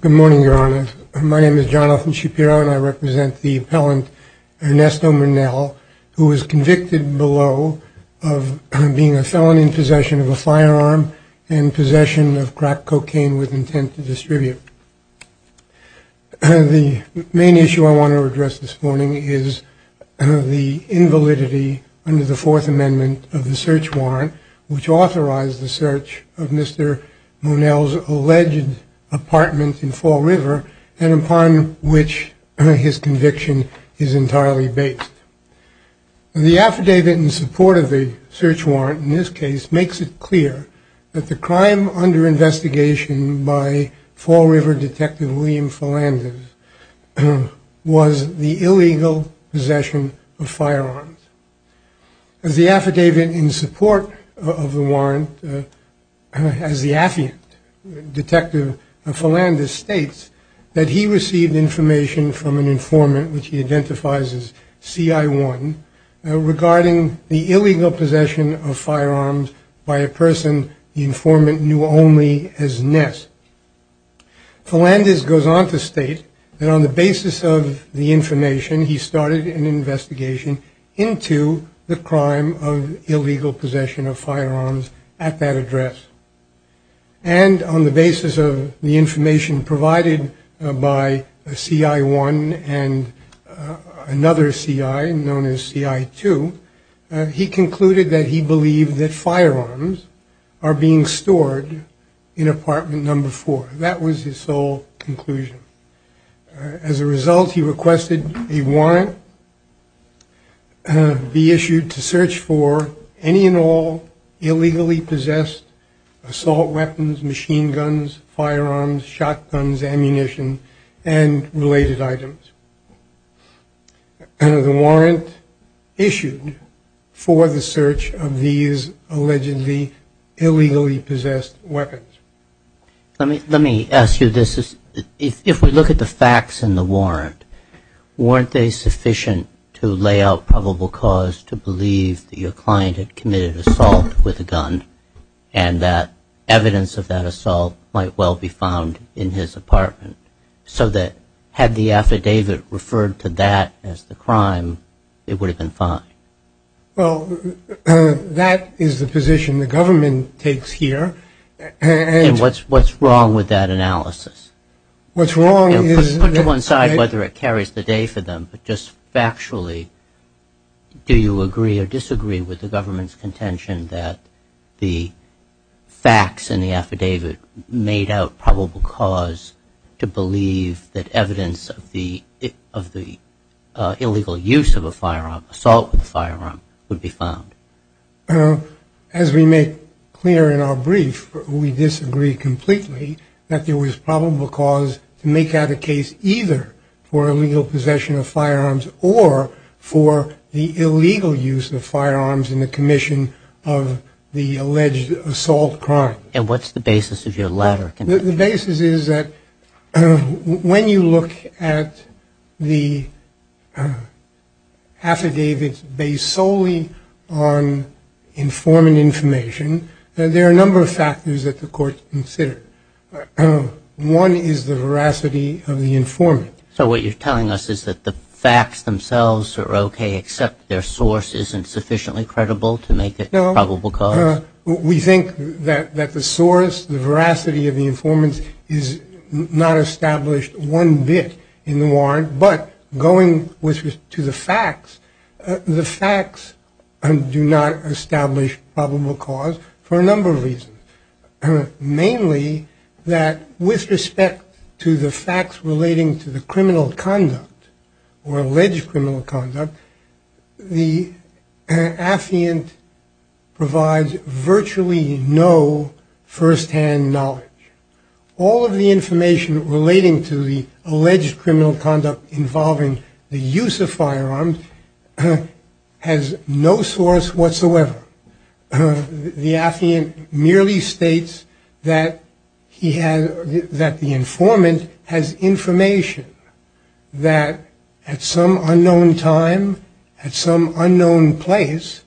Good morning, Your Honor. My name is Jonathan Shapiro, and I represent the appellant Ernesto Monell, who was convicted below of being a felon in possession of a firearm and possession of crack cocaine with intent to distribute. The main issue I want to address this morning is the invalidity under the Fourth Amendment of the search warrant, which authorized the search of Mr. Monell's alleged apartment in Fall River and upon which his conviction is entirely based. The affidavit in support of the search warrant in this case makes it clear that the crime under investigation by Fall River Detective William Philanders was the illegal possession of firearms. As the affidavit in support of the warrant, as the affiant, Detective Philanders states that he received information from an informant, which he identifies as CI1, regarding the illegal possession of firearms by a person the informant knew only as Ness. Philanders goes on to state that on the basis of the information, he started an investigation into the crime of illegal possession of firearms at that address. And on the basis of the information provided by CI1 and another CI known as CI2, he concluded that he believed that firearms are being stored in apartment number four. That was his sole conclusion. As a result, he requested a warrant be issued to search for any and all illegally possessed assault weapons, machine guns, firearms, shotguns, ammunition, and related items. And the warrant issued for the search of these allegedly illegally possessed weapons. Let me ask you this. If we look at the facts in the warrant, weren't they sufficient to lay out probable cause to believe that your client had committed assault with a gun? And that evidence of that assault might well be found in his apartment. So that had the affidavit referred to that as the crime, it would have been fine. Well, that is the position the government takes here. And what's what's wrong with that analysis? What's wrong is... But just factually, do you agree or disagree with the government's contention that the facts in the affidavit made out probable cause to believe that evidence of the illegal use of a firearm, assault with a firearm, would be found? As we make clear in our brief, we disagree completely that there was probable cause to make out a case either for illegal possession of firearms or for the illegal use of firearms in the commission of the alleged assault crime. And what's the basis of your letter? The basis is that when you look at the affidavits based solely on informant information, there are a number of factors that the court considered. One is the veracity of the informant. So what you're telling us is that the facts themselves are okay, except their source isn't sufficiently credible to make it probable cause? We think that the source, the veracity of the informant, is not established one bit in the warrant. But going to the facts, the facts do not establish probable cause for a number of reasons. Mainly that with respect to the facts relating to the criminal conduct or alleged criminal conduct, the affiant provides virtually no firsthand knowledge. All of the information relating to the alleged criminal conduct involving the use of firearms has no source whatsoever. The affiant merely states that the informant has information that at some unknown time, at some unknown place,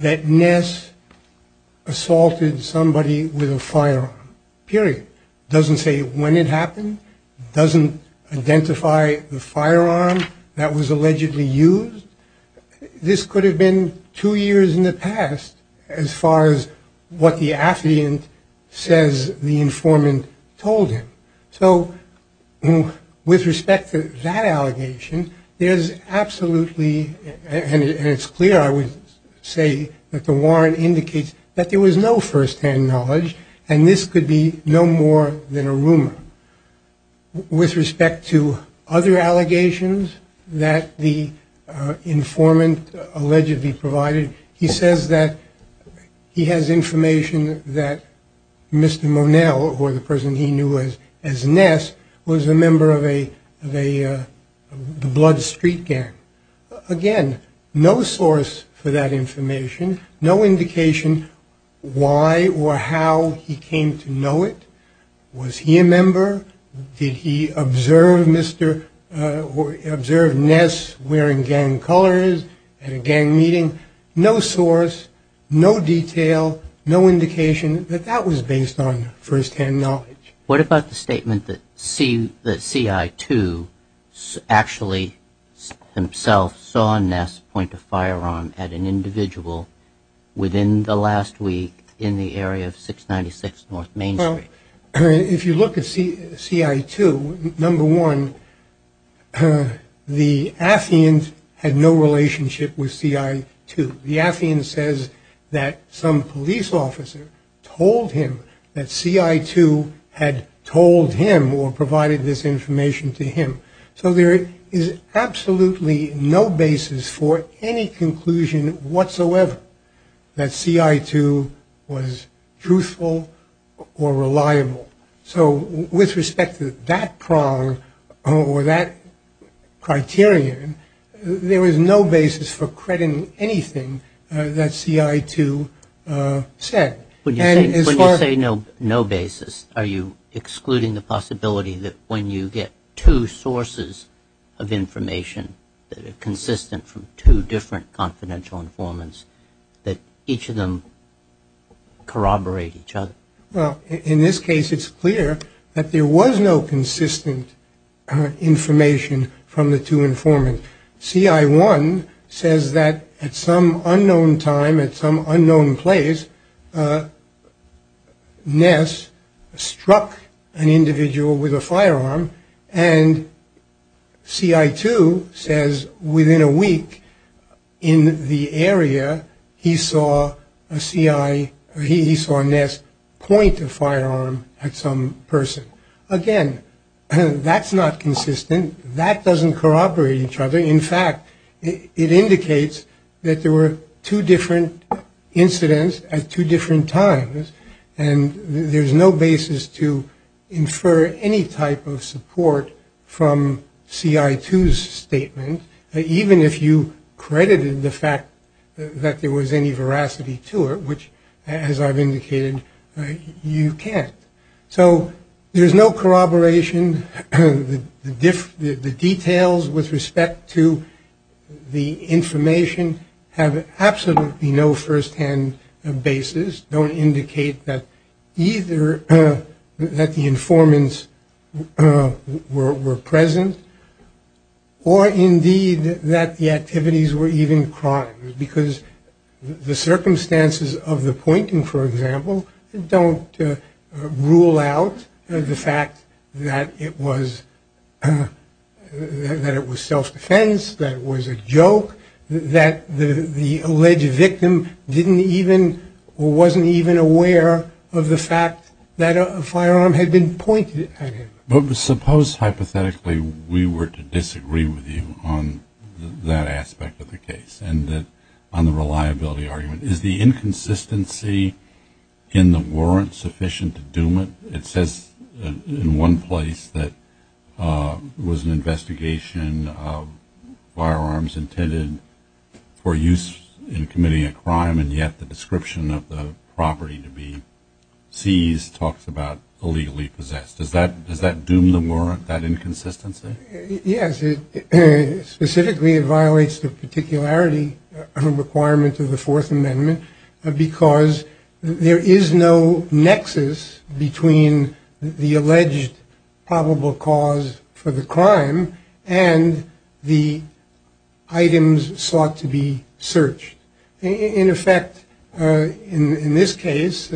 that Ness assaulted somebody with a firearm. Period. Doesn't say when it happened. Doesn't identify the firearm that was allegedly used. This could have been two years in the past as far as what the affiant says the informant told him. So with respect to that allegation, there's absolutely, and it's clear, I would say, that the warrant indicates that there was no firsthand knowledge, and this could be no more than a rumor. With respect to other allegations that the informant allegedly provided, he says that he has information that Mr. Monel, or the person he knew as Ness, was a member of the Blood Street Gang. Again, no source for that information. No indication why or how he came to know it. Was he a member? Did he observe Ness wearing gang colors at a gang meeting? No source, no detail, no indication that that was based on firsthand knowledge. What about the statement that CI2 actually himself saw Ness point a firearm at an individual within the last week in the area of 696 North Main Street? If you look at CI2, number one, the affiant had no relationship with CI2. The affiant says that some police officer told him that CI2 had told him or provided this information to him. So there is absolutely no basis for any conclusion whatsoever that CI2 was truthful or reliable. So with respect to that prong or that criterion, there is no basis for crediting anything that CI2 said. When you say no basis, are you excluding the possibility that when you get two sources of information that are consistent from two different confidential informants, that each of them corroborate each other? Well, in this case, it's clear that there was no consistent information from the two informants. CI1 says that at some unknown time, at some unknown place, Ness struck an individual with a firearm. And CI2 says within a week in the area, he saw Ness point a firearm at some person. Again, that's not consistent. That doesn't corroborate each other. In fact, it indicates that there were two different incidents at two different times. And there's no basis to infer any type of support from CI2's statement, even if you credited the fact that there was any veracity to it, which, as I've indicated, you can't. So there's no corroboration. The details with respect to the information have absolutely no firsthand basis, don't indicate that either that the informants were present, or indeed that the activities were even crimes. Because the circumstances of the pointing, for example, don't rule out the fact that it was self-defense, that it was a joke, that the alleged victim didn't even or wasn't even aware of the fact that a firearm had been pointed at him. But suppose, hypothetically, we were to disagree with you on that aspect of the case and on the reliability argument. Is the inconsistency in the warrant sufficient to doom it? It says in one place that it was an investigation of firearms intended for use in committing a crime, and yet the description of the property to be seized talks about illegally possessed. Does that doom the warrant, that inconsistency? Yes. Specifically, it violates the particularity of a requirement of the Fourth Amendment, because there is no nexus between the alleged probable cause for the crime and the items sought to be searched. In effect, in this case,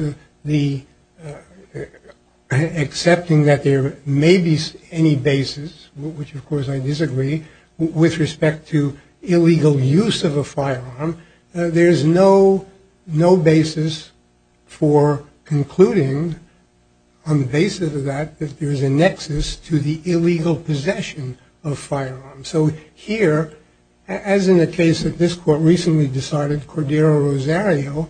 accepting that there may be any basis, which of course I disagree, with respect to illegal use of a firearm, there is no basis for concluding on the basis of that that there is a nexus to the illegal possession of firearms. So here, as in the case that this court recently decided, Cordero-Rosario,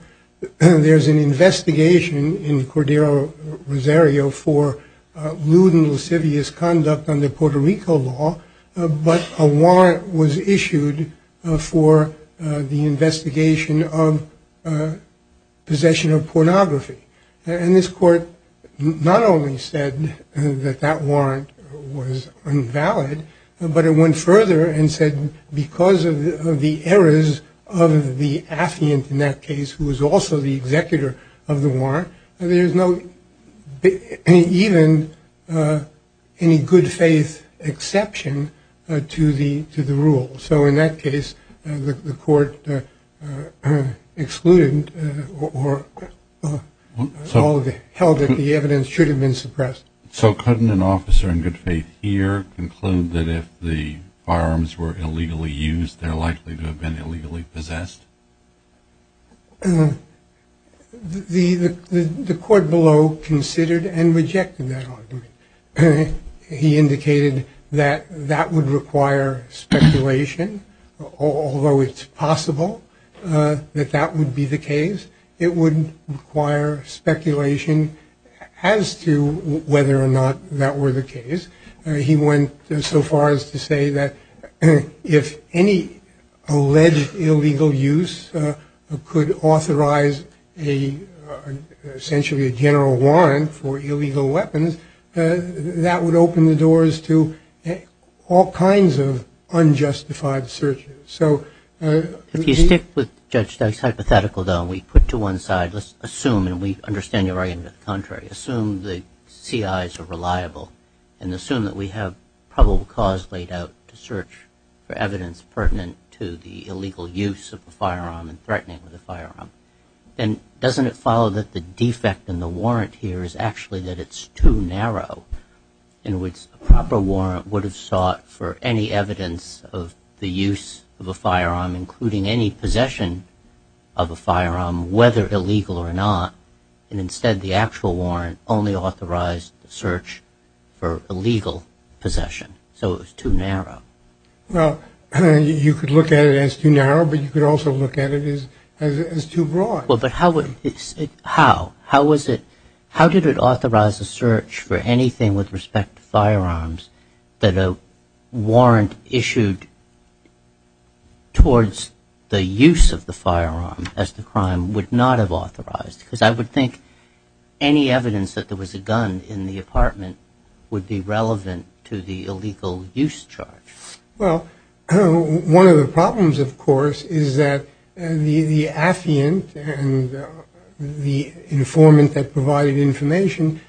there is an investigation in Cordero-Rosario for lewd and lascivious conduct under Puerto Rico law, but a warrant was issued for the investigation of possession of pornography. And this court not only said that that warrant was invalid, but it went further and said because of the errors of the affiant in that case, who was also the executor of the warrant, there is no even any good faith exception to the rule. So in that case, the court excluded or held that the evidence should have been suppressed. So couldn't an officer in good faith here conclude that if the firearms were illegally used, they're likely to have been illegally possessed? The court below considered and rejected that argument. He indicated that that would require speculation, although it's possible that that would be the case. It wouldn't require speculation as to whether or not that were the case. He went so far as to say that if any alleged illegal use could authorize a, essentially a general warrant for illegal weapons, that would open the doors to all kinds of unjustified searches. So if you stick with Judge Doug's hypothetical, though, and we put to one side, let's assume, and we understand you're arguing the contrary, assume the CIs are reliable and assume that we have probable cause laid out to search for evidence pertinent to the illegal use of a firearm and threatening with a firearm, then doesn't it follow that the defect in the warrant here is actually that it's too narrow? In other words, a proper warrant would have sought for any evidence of the use of a firearm, including any possession of a firearm, whether illegal or not, and instead the actual warrant only authorized the search for illegal possession. So it was too narrow. Well, you could look at it as too narrow, but you could also look at it as too broad. Well, but how would, how, how was it, how did it authorize a search for anything with respect to firearms that a warrant issued towards the use of the firearm as the crime would not have authorized? Because I would think any evidence that there was a gun in the apartment would be relevant to the illegal use charge. Well, one of the problems, of course, is that the affiant and the informant that provided information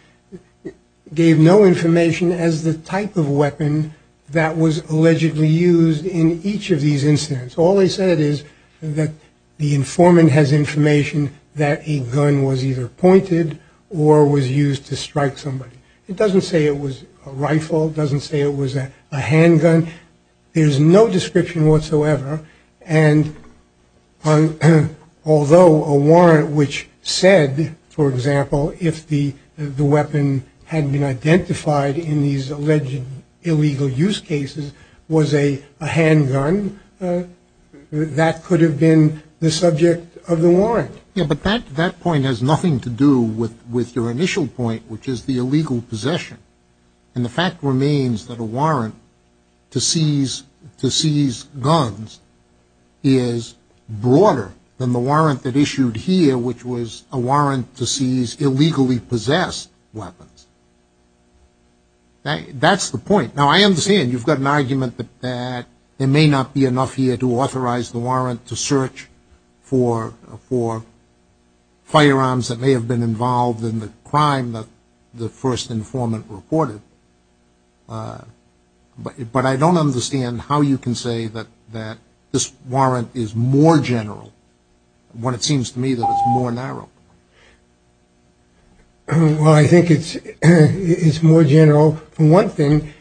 gave no information as the type of weapon that was allegedly used in each of these incidents. All they said is that the informant has information that a gun was either pointed or was used to strike somebody. It doesn't say it was a rifle. It doesn't say it was a handgun. There's no description whatsoever. And although a warrant which said, for example, if the weapon had been identified in these alleged illegal use cases was a handgun, that could have been the subject of the warrant. Yeah, but that point has nothing to do with your initial point, which is the illegal possession. And the fact remains that a warrant to seize guns is broader than the warrant that issued here, which was a warrant to seize illegally possessed weapons. That's the point. Now, I understand you've got an argument that there may not be enough here to authorize the warrant to search for firearms that may have been involved in the crime that the first informant reported. But I don't understand how you can say that this warrant is more general, when it seems to me that it's more narrow. Well, I think it's more general. For one thing,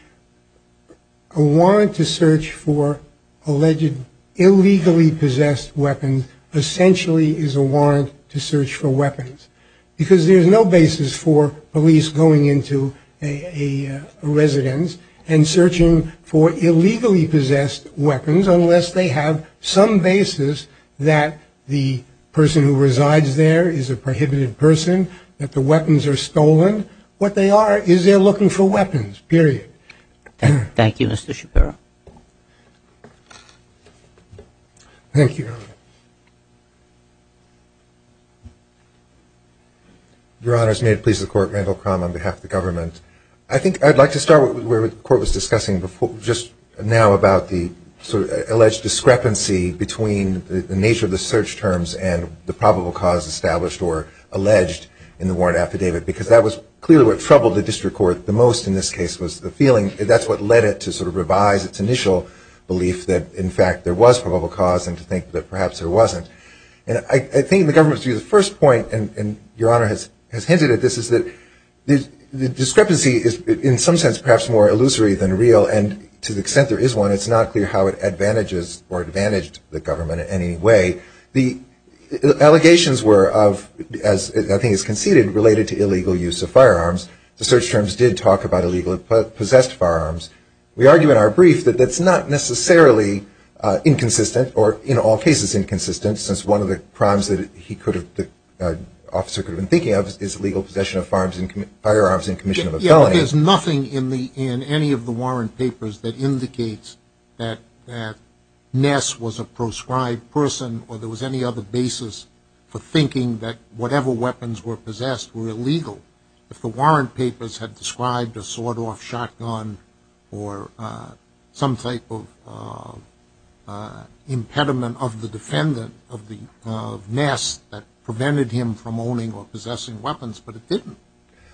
a warrant to search for alleged illegally possessed weapons essentially is a warrant to search for weapons. Because there's no basis for police going into a residence and searching for illegally possessed weapons, unless they have some basis that the person who resides there is a prohibited person, that the weapons are stolen. What they are is they're looking for weapons, period. Thank you, Mr. Shapiro. Thank you. Your Honors, may it please the Court, Randall Crum on behalf of the government. I think I'd like to start where the Court was discussing just now about the alleged discrepancy between the nature of the search terms and the probable cause established or alleged in the warrant affidavit because that was clearly what troubled the district court the most in this case was the feeling. That's what led it to sort of revise its initial belief that, in fact, there was probable cause and to think that perhaps there wasn't. And I think in the government's view, the first point, and Your Honor has hinted at this, is that the discrepancy is in some sense perhaps more illusory than real. And to the extent there is one, it's not clear how it advantages or advantaged the government in any way. The allegations were of, as I think is conceded, related to illegal use of firearms. The search terms did talk about illegally possessed firearms. We argue in our brief that that's not necessarily inconsistent or in all cases inconsistent since one of the crimes that the officer could have been thinking of is illegal possession of firearms in commission of a felony. There's nothing in any of the warrant papers that indicates that Ness was a proscribed person or there was any other basis for thinking that whatever weapons were possessed were illegal. If the warrant papers had described a sawed-off shotgun or some type of impediment of the defendant of Ness that prevented him from owning or possessing weapons, but it didn't.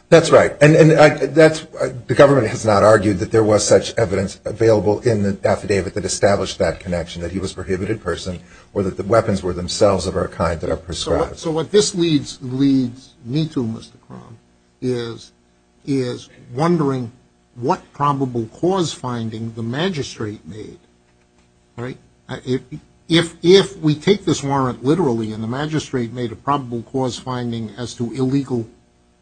That's right. And the government has not argued that there was such evidence available in the affidavit that established that connection, that he was a prohibited person or that the weapons were themselves of a kind that are proscribed. So what this leads me to, Mr. Cromb, is wondering what probable cause finding the magistrate made. If we take this warrant literally and the magistrate made a probable cause finding as to illegal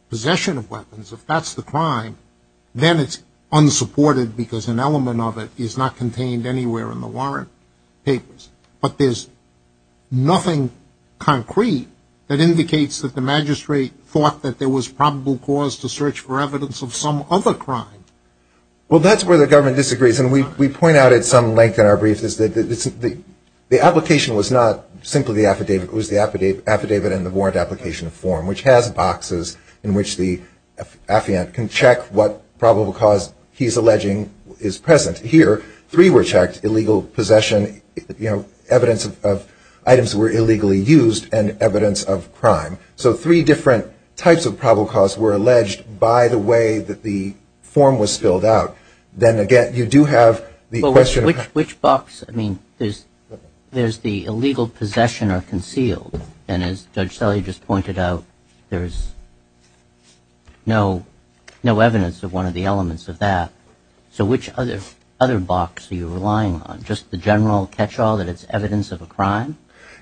possession of weapons, if that's the crime, then it's unsupported because an element of it is not contained anywhere in the warrant papers. But there's nothing concrete that indicates that the magistrate thought that there was probable cause to search for evidence of some other crime. Well, that's where the government disagrees. And we point out at some length in our briefs that the application was not simply the affidavit. It was the affidavit and the warrant application form, which has boxes in which the affiant can check what probable cause he's alleging is present. Here, three were checked, illegal possession, evidence of items that were illegally used, and evidence of crime. So three different types of probable cause were alleged by the way that the form was spilled out. Then again, you do have the question of – Which box? I mean, there's the illegal possession or concealed. And as Judge Selle just pointed out, there's no evidence of one of the elements of that. So which other box are you relying on? Just the general catch-all that it's evidence of a crime?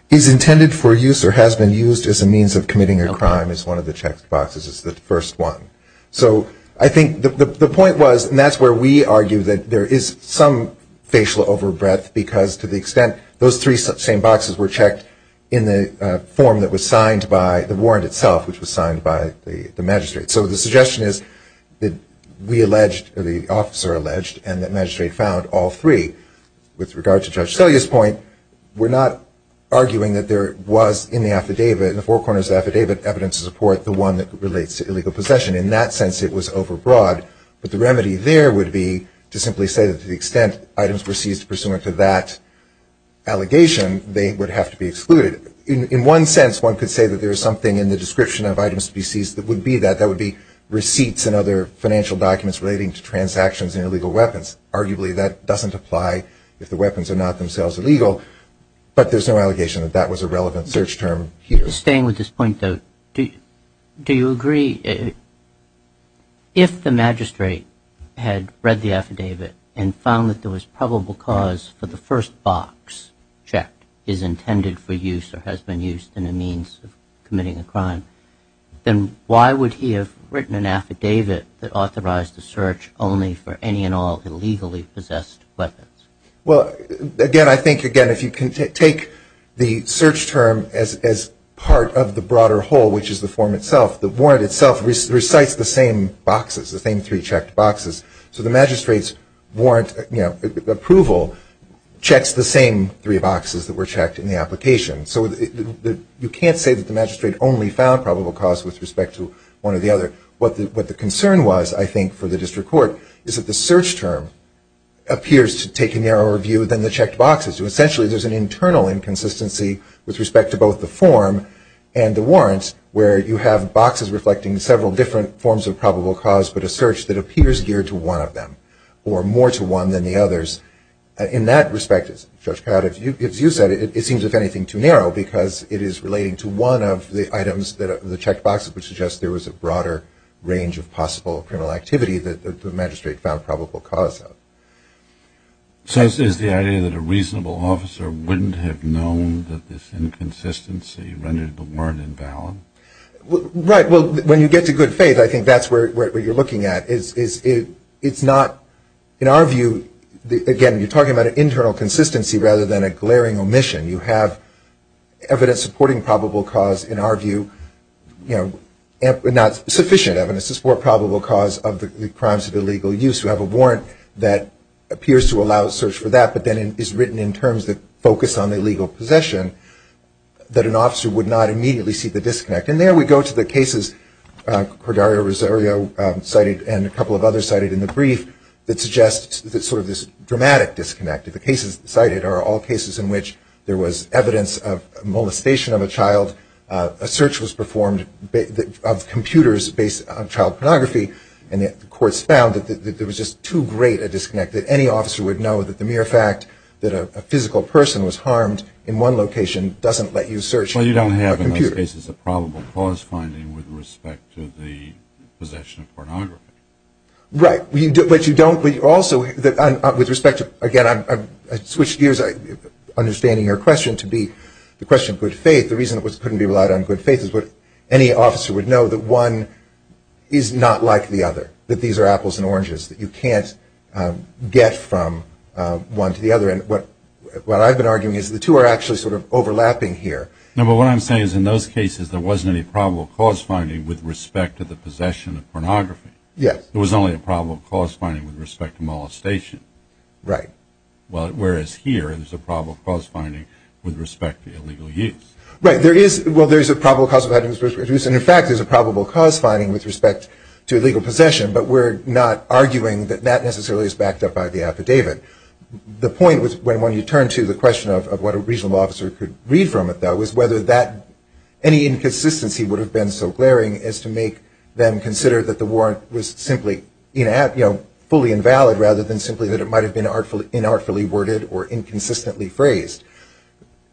Is intended for use or has been used as a means of committing a crime is one of the checked boxes. It's the first one. So I think the point was, and that's where we argue that there is some facial overbreath because to the extent those three same boxes were checked in the form that was signed by the warrant itself, which was signed by the magistrate. So the suggestion is that we alleged, or the officer alleged, and the magistrate found all three. With regard to Judge Selle's point, we're not arguing that there was in the affidavit, in the four corners of the affidavit, evidence to support the one that relates to illegal possession. In that sense, it was overbroad. But the remedy there would be to simply say that to the extent items were seized pursuant to that allegation, they would have to be excluded. In one sense, one could say that there is something in the description of items to be seized that would be that. It's in other financial documents relating to transactions and illegal weapons. Arguably, that doesn't apply if the weapons are not themselves illegal. But there's no allegation that that was a relevant search term here. Staying with this point, though, do you agree if the magistrate had read the affidavit and found that there was probable cause for the first box checked is intended for use then why would he have written an affidavit that authorized the search only for any and all illegally possessed weapons? Well, again, I think, again, if you can take the search term as part of the broader whole, which is the form itself, the warrant itself recites the same boxes, the same three checked boxes. So the magistrate's warrant approval checks the same three boxes that were checked in the application. So you can't say that the magistrate only found probable cause with respect to one or the other. What the concern was, I think, for the district court, is that the search term appears to take a narrower view than the checked boxes. So essentially there's an internal inconsistency with respect to both the form and the warrants where you have boxes reflecting several different forms of probable cause but a search that appears geared to one of them or more to one than the others. In that respect, Judge Prado, as you said, it seems, if anything, too narrow because it is relating to one of the items that the checked boxes would suggest there was a broader range of possible criminal activity that the magistrate found probable cause of. So is the idea that a reasonable officer wouldn't have known that this inconsistency rendered the warrant invalid? Right. Well, when you get to good faith, I think that's where you're looking at. It's not, in our view, again, you're talking about an internal consistency rather than a glaring omission. You have evidence supporting probable cause, in our view, not sufficient evidence to support probable cause of the crimes of illegal use. You have a warrant that appears to allow a search for that but then is written in terms that focus on illegal possession that an officer would not immediately see the disconnect. And there we go to the cases Cordario-Rosario cited and a couple of others cited in the brief that suggest sort of this dramatic disconnect. The cases cited are all cases in which there was evidence of molestation of a child. A search was performed of computers based on child pornography and the courts found that there was just too great a disconnect, that any officer would know that the mere fact that a physical person was harmed in one location doesn't let you search for a computer. Well, you don't have in those cases a probable cause finding with respect to the possession of pornography. Right, but you don't, but you also, with respect to, again, I switched gears understanding your question to be the question of good faith. The reason it couldn't be relied on good faith is that any officer would know that one is not like the other, that these are apples and oranges, that you can't get from one to the other. And what I've been arguing is the two are actually sort of overlapping here. No, but what I'm saying is in those cases, there wasn't any probable cause finding with respect to the possession of pornography. Yes. There was only a probable cause finding with respect to molestation. Right. Whereas here, there's a probable cause finding with respect to illegal use. Well, there is a probable cause finding with respect to illegal use, and in fact there's a probable cause finding with respect to illegal possession, but we're not arguing that that necessarily is backed up by the affidavit. The point, when you turn to the question of what a regional officer could read from it, though, is whether any inconsistency would have been so glaring as to make them consider that the warrant was simply fully invalid rather than simply that it might have been inartfully worded or inconsistently phrased.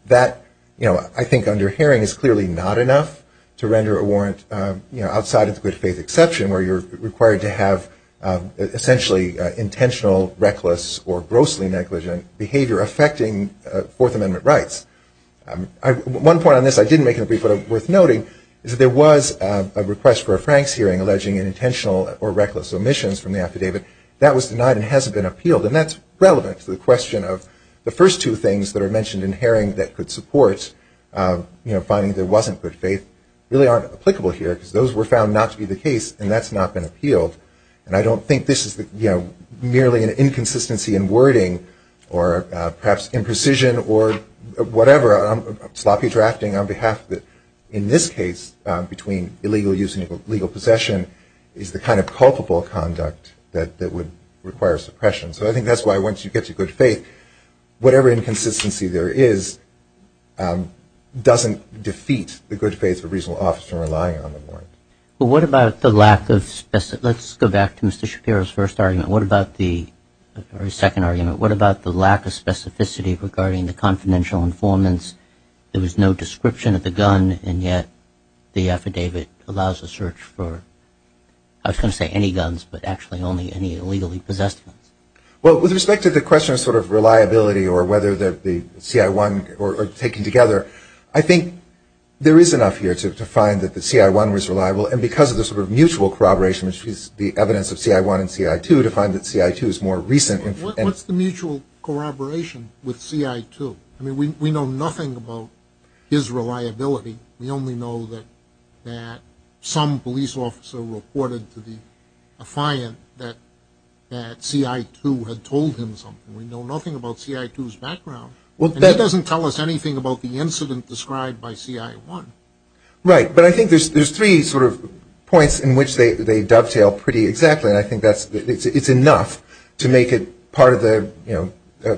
That, I think under Haring, is clearly not enough to render a warrant outside of the good faith exception where you're required to have essentially intentional, reckless, or grossly negligent behavior affecting Fourth Amendment rights. One point on this I didn't make in the brief but worth noting is that there was a request for a Franks hearing alleging intentional or reckless omissions from the affidavit. That was denied and hasn't been appealed, and that's relevant to the question of the first two things that are mentioned in Haring that could support finding there wasn't good faith really aren't applicable here because those were found not to be the case and that's not been appealed. And I don't think this is merely an inconsistency in wording or perhaps imprecision or whatever, sloppy drafting on behalf of the, in this case, between illegal use and illegal possession, is the kind of culpable conduct that would require suppression. So I think that's why once you get to good faith, whatever inconsistency there is doesn't defeat the good faith of a reasonable officer relying on the warrant. Well, what about the lack of, let's go back to Mr. Shapiro's first argument, what about the, or his second argument, what about the lack of specificity regarding the confidential informants? There was no description of the gun and yet the affidavit allows a search for, I was going to say any guns, but actually only any illegally possessed guns. Well, with respect to the question of sort of reliability or whether the CI1 are taken together, I think there is enough here to find that the CI1 was reliable and because of the sort of mutual corroboration, which is the evidence of CI1 and CI2, to find that CI2 is more recent. What's the mutual corroboration with CI2? I mean, we know nothing about his reliability. We only know that some police officer reported to the affiant that CI2 had told him something. We know nothing about CI2's background. He doesn't tell us anything about the incident described by CI1. Right, but I think there's three sort of points in which they dovetail pretty exactly and I think it's enough to make it part of the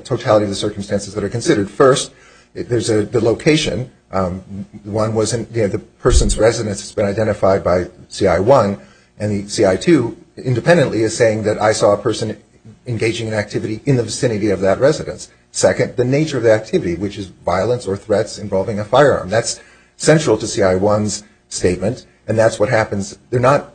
totality of the circumstances that are considered. First, there's the location. One was the person's residence has been identified by CI1 and the CI2 independently is saying that I saw a person engaging in activity in the vicinity of that residence. Second, the nature of the activity, which is violence or threats involving a firearm. That's central to CI1's statement and that's what happens. They're not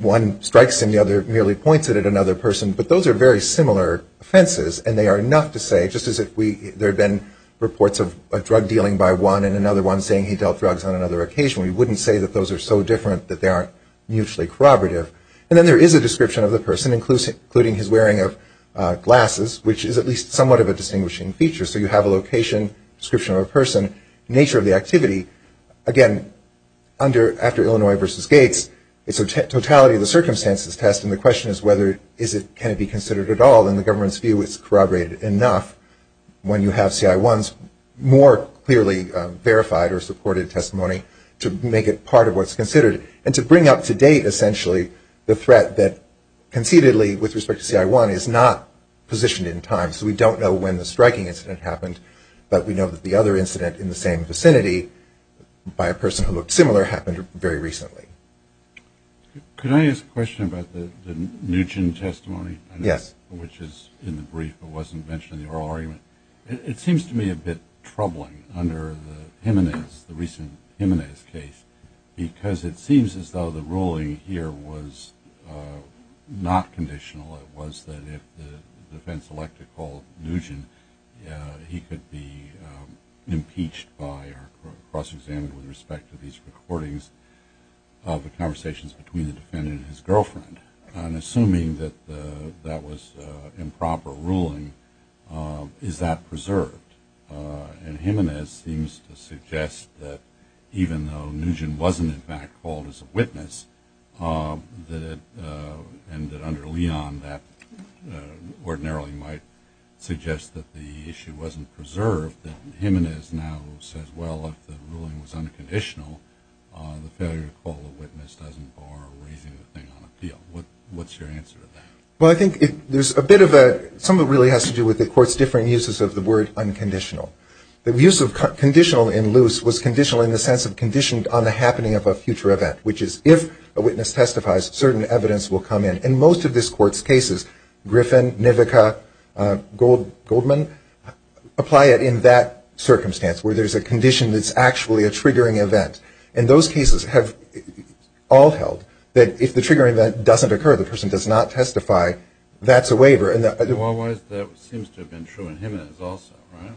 one strikes the other, merely points it at another person, but those are very similar offenses and they are enough to say, just as if there had been reports of a drug dealing by one and another one saying he dealt drugs on another occasion, we wouldn't say that those are so different that they aren't mutually corroborative. And then there is a description of the person, including his wearing of glasses, which is at least somewhat of a distinguishing feature. So you have a location, description of a person, nature of the activity. Again, after Illinois v. Gates, it's a totality of the circumstances test and the question is whether can it be considered at all and the government's view is corroborated enough when you have CI1's more clearly verified or supported testimony to make it part of what's considered and to bring up to date essentially the threat that conceitedly with respect to CI1 is not positioned in time. So we don't know when the striking incident happened, but we know that the other incident in the same vicinity by a person who looked similar happened very recently. Could I ask a question about the Nugent testimony? Yes. Which is in the brief but wasn't mentioned in the oral argument. It seems to me a bit troubling under the recent Jimenez case because it seems as though the ruling here was not conditional. It was that if the defense elected called Nugent, he could be impeached by or cross-examined with respect to these recordings of the conversations between the defendant and his girlfriend. And assuming that that was improper ruling, is that preserved? And Jimenez seems to suggest that even though Nugent wasn't in fact called as a witness, and that under Leon that ordinarily might suggest that the issue wasn't preserved, that Jimenez now says, well, if the ruling was unconditional, the failure to call the witness doesn't bar raising the thing on appeal. What's your answer to that? Well, I think there's a bit of a, some of it really has to do with the court's different uses of the word unconditional. The use of conditional in Luce was conditional in the sense of conditioned on the happening of a future event, which is if a witness testifies, certain evidence will come in. And most of this court's cases, Griffin, Nivica, Goldman, apply it in that circumstance where there's a condition that's actually a triggering event. And those cases have all held that if the triggering event doesn't occur, the person does not testify, that's a waiver. Well, that seems to have been true in Jimenez also, right?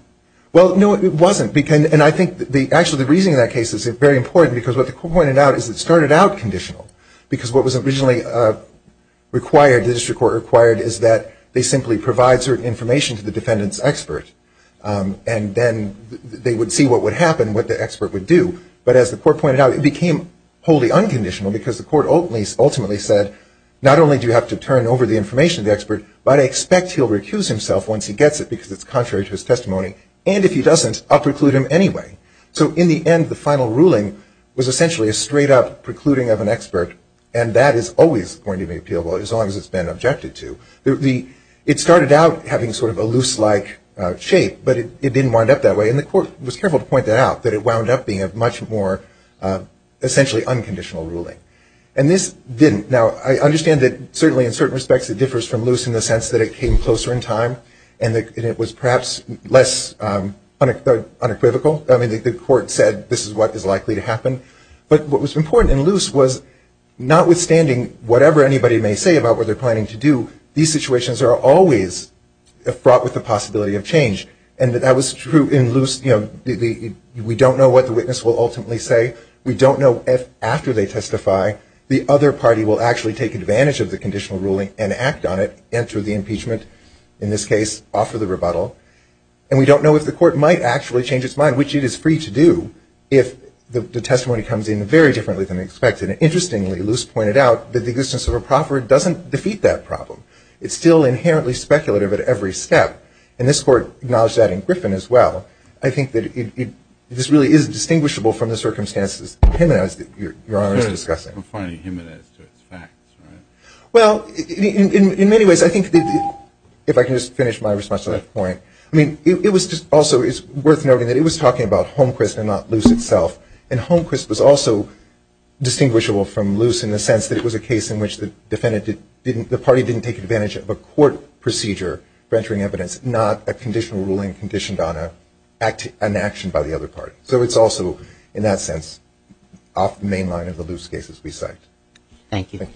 Well, no, it wasn't. And I think actually the reason that case is very important because what the court pointed out is it started out conditional. Because what was originally required, the district court required, is that they simply provide certain information to the defendant's expert. And then they would see what would happen, what the expert would do. But as the court pointed out, it became wholly unconditional because the court ultimately said not only do you have to turn over the information to the expert, but I expect he'll recuse himself once he gets it because it's contrary to his testimony. And if he doesn't, I'll preclude him anyway. So in the end, the final ruling was essentially a straight-up precluding of an expert, and that is always going to be appealable as long as it's been objected to. It started out having sort of a loose-like shape, but it didn't wind up that way. And the court was careful to point that out, that it wound up being a much more essentially unconditional ruling. And this didn't. Now, I understand that certainly in certain respects it differs from loose in the sense that it came closer in time and it was perhaps less unequivocal. I mean, the court said this is what is likely to happen. But what was important in loose was notwithstanding whatever anybody may say about what they're planning to do, these situations are always fraught with the possibility of change. And that was true in loose. We don't know what the witness will ultimately say. We don't know if after they testify the other party will actually take advantage of the conditional ruling and act on it, enter the impeachment, in this case offer the rebuttal. And we don't know if the court might actually change its mind, which it is free to do, if the testimony comes in very differently than expected. Interestingly, loose pointed out that the existence of a proffer doesn't defeat that problem. It's still inherently speculative at every step. And this court acknowledged that in Griffin as well. I think that this really is distinguishable from the circumstances that your Honor is discussing. Well, in many ways, I think, if I can just finish my response to that point, I mean, it was just also worth noting that it was talking about Homecrest and not loose itself. And Homecrest was also distinguishable from loose in the sense that it was a case in which the defendant didn't, the party didn't take advantage of a court procedure for entering evidence, not a conditional ruling conditioned on an action by the other party. So it's also, in that sense, off the main line of the loose cases we cite. Thank you.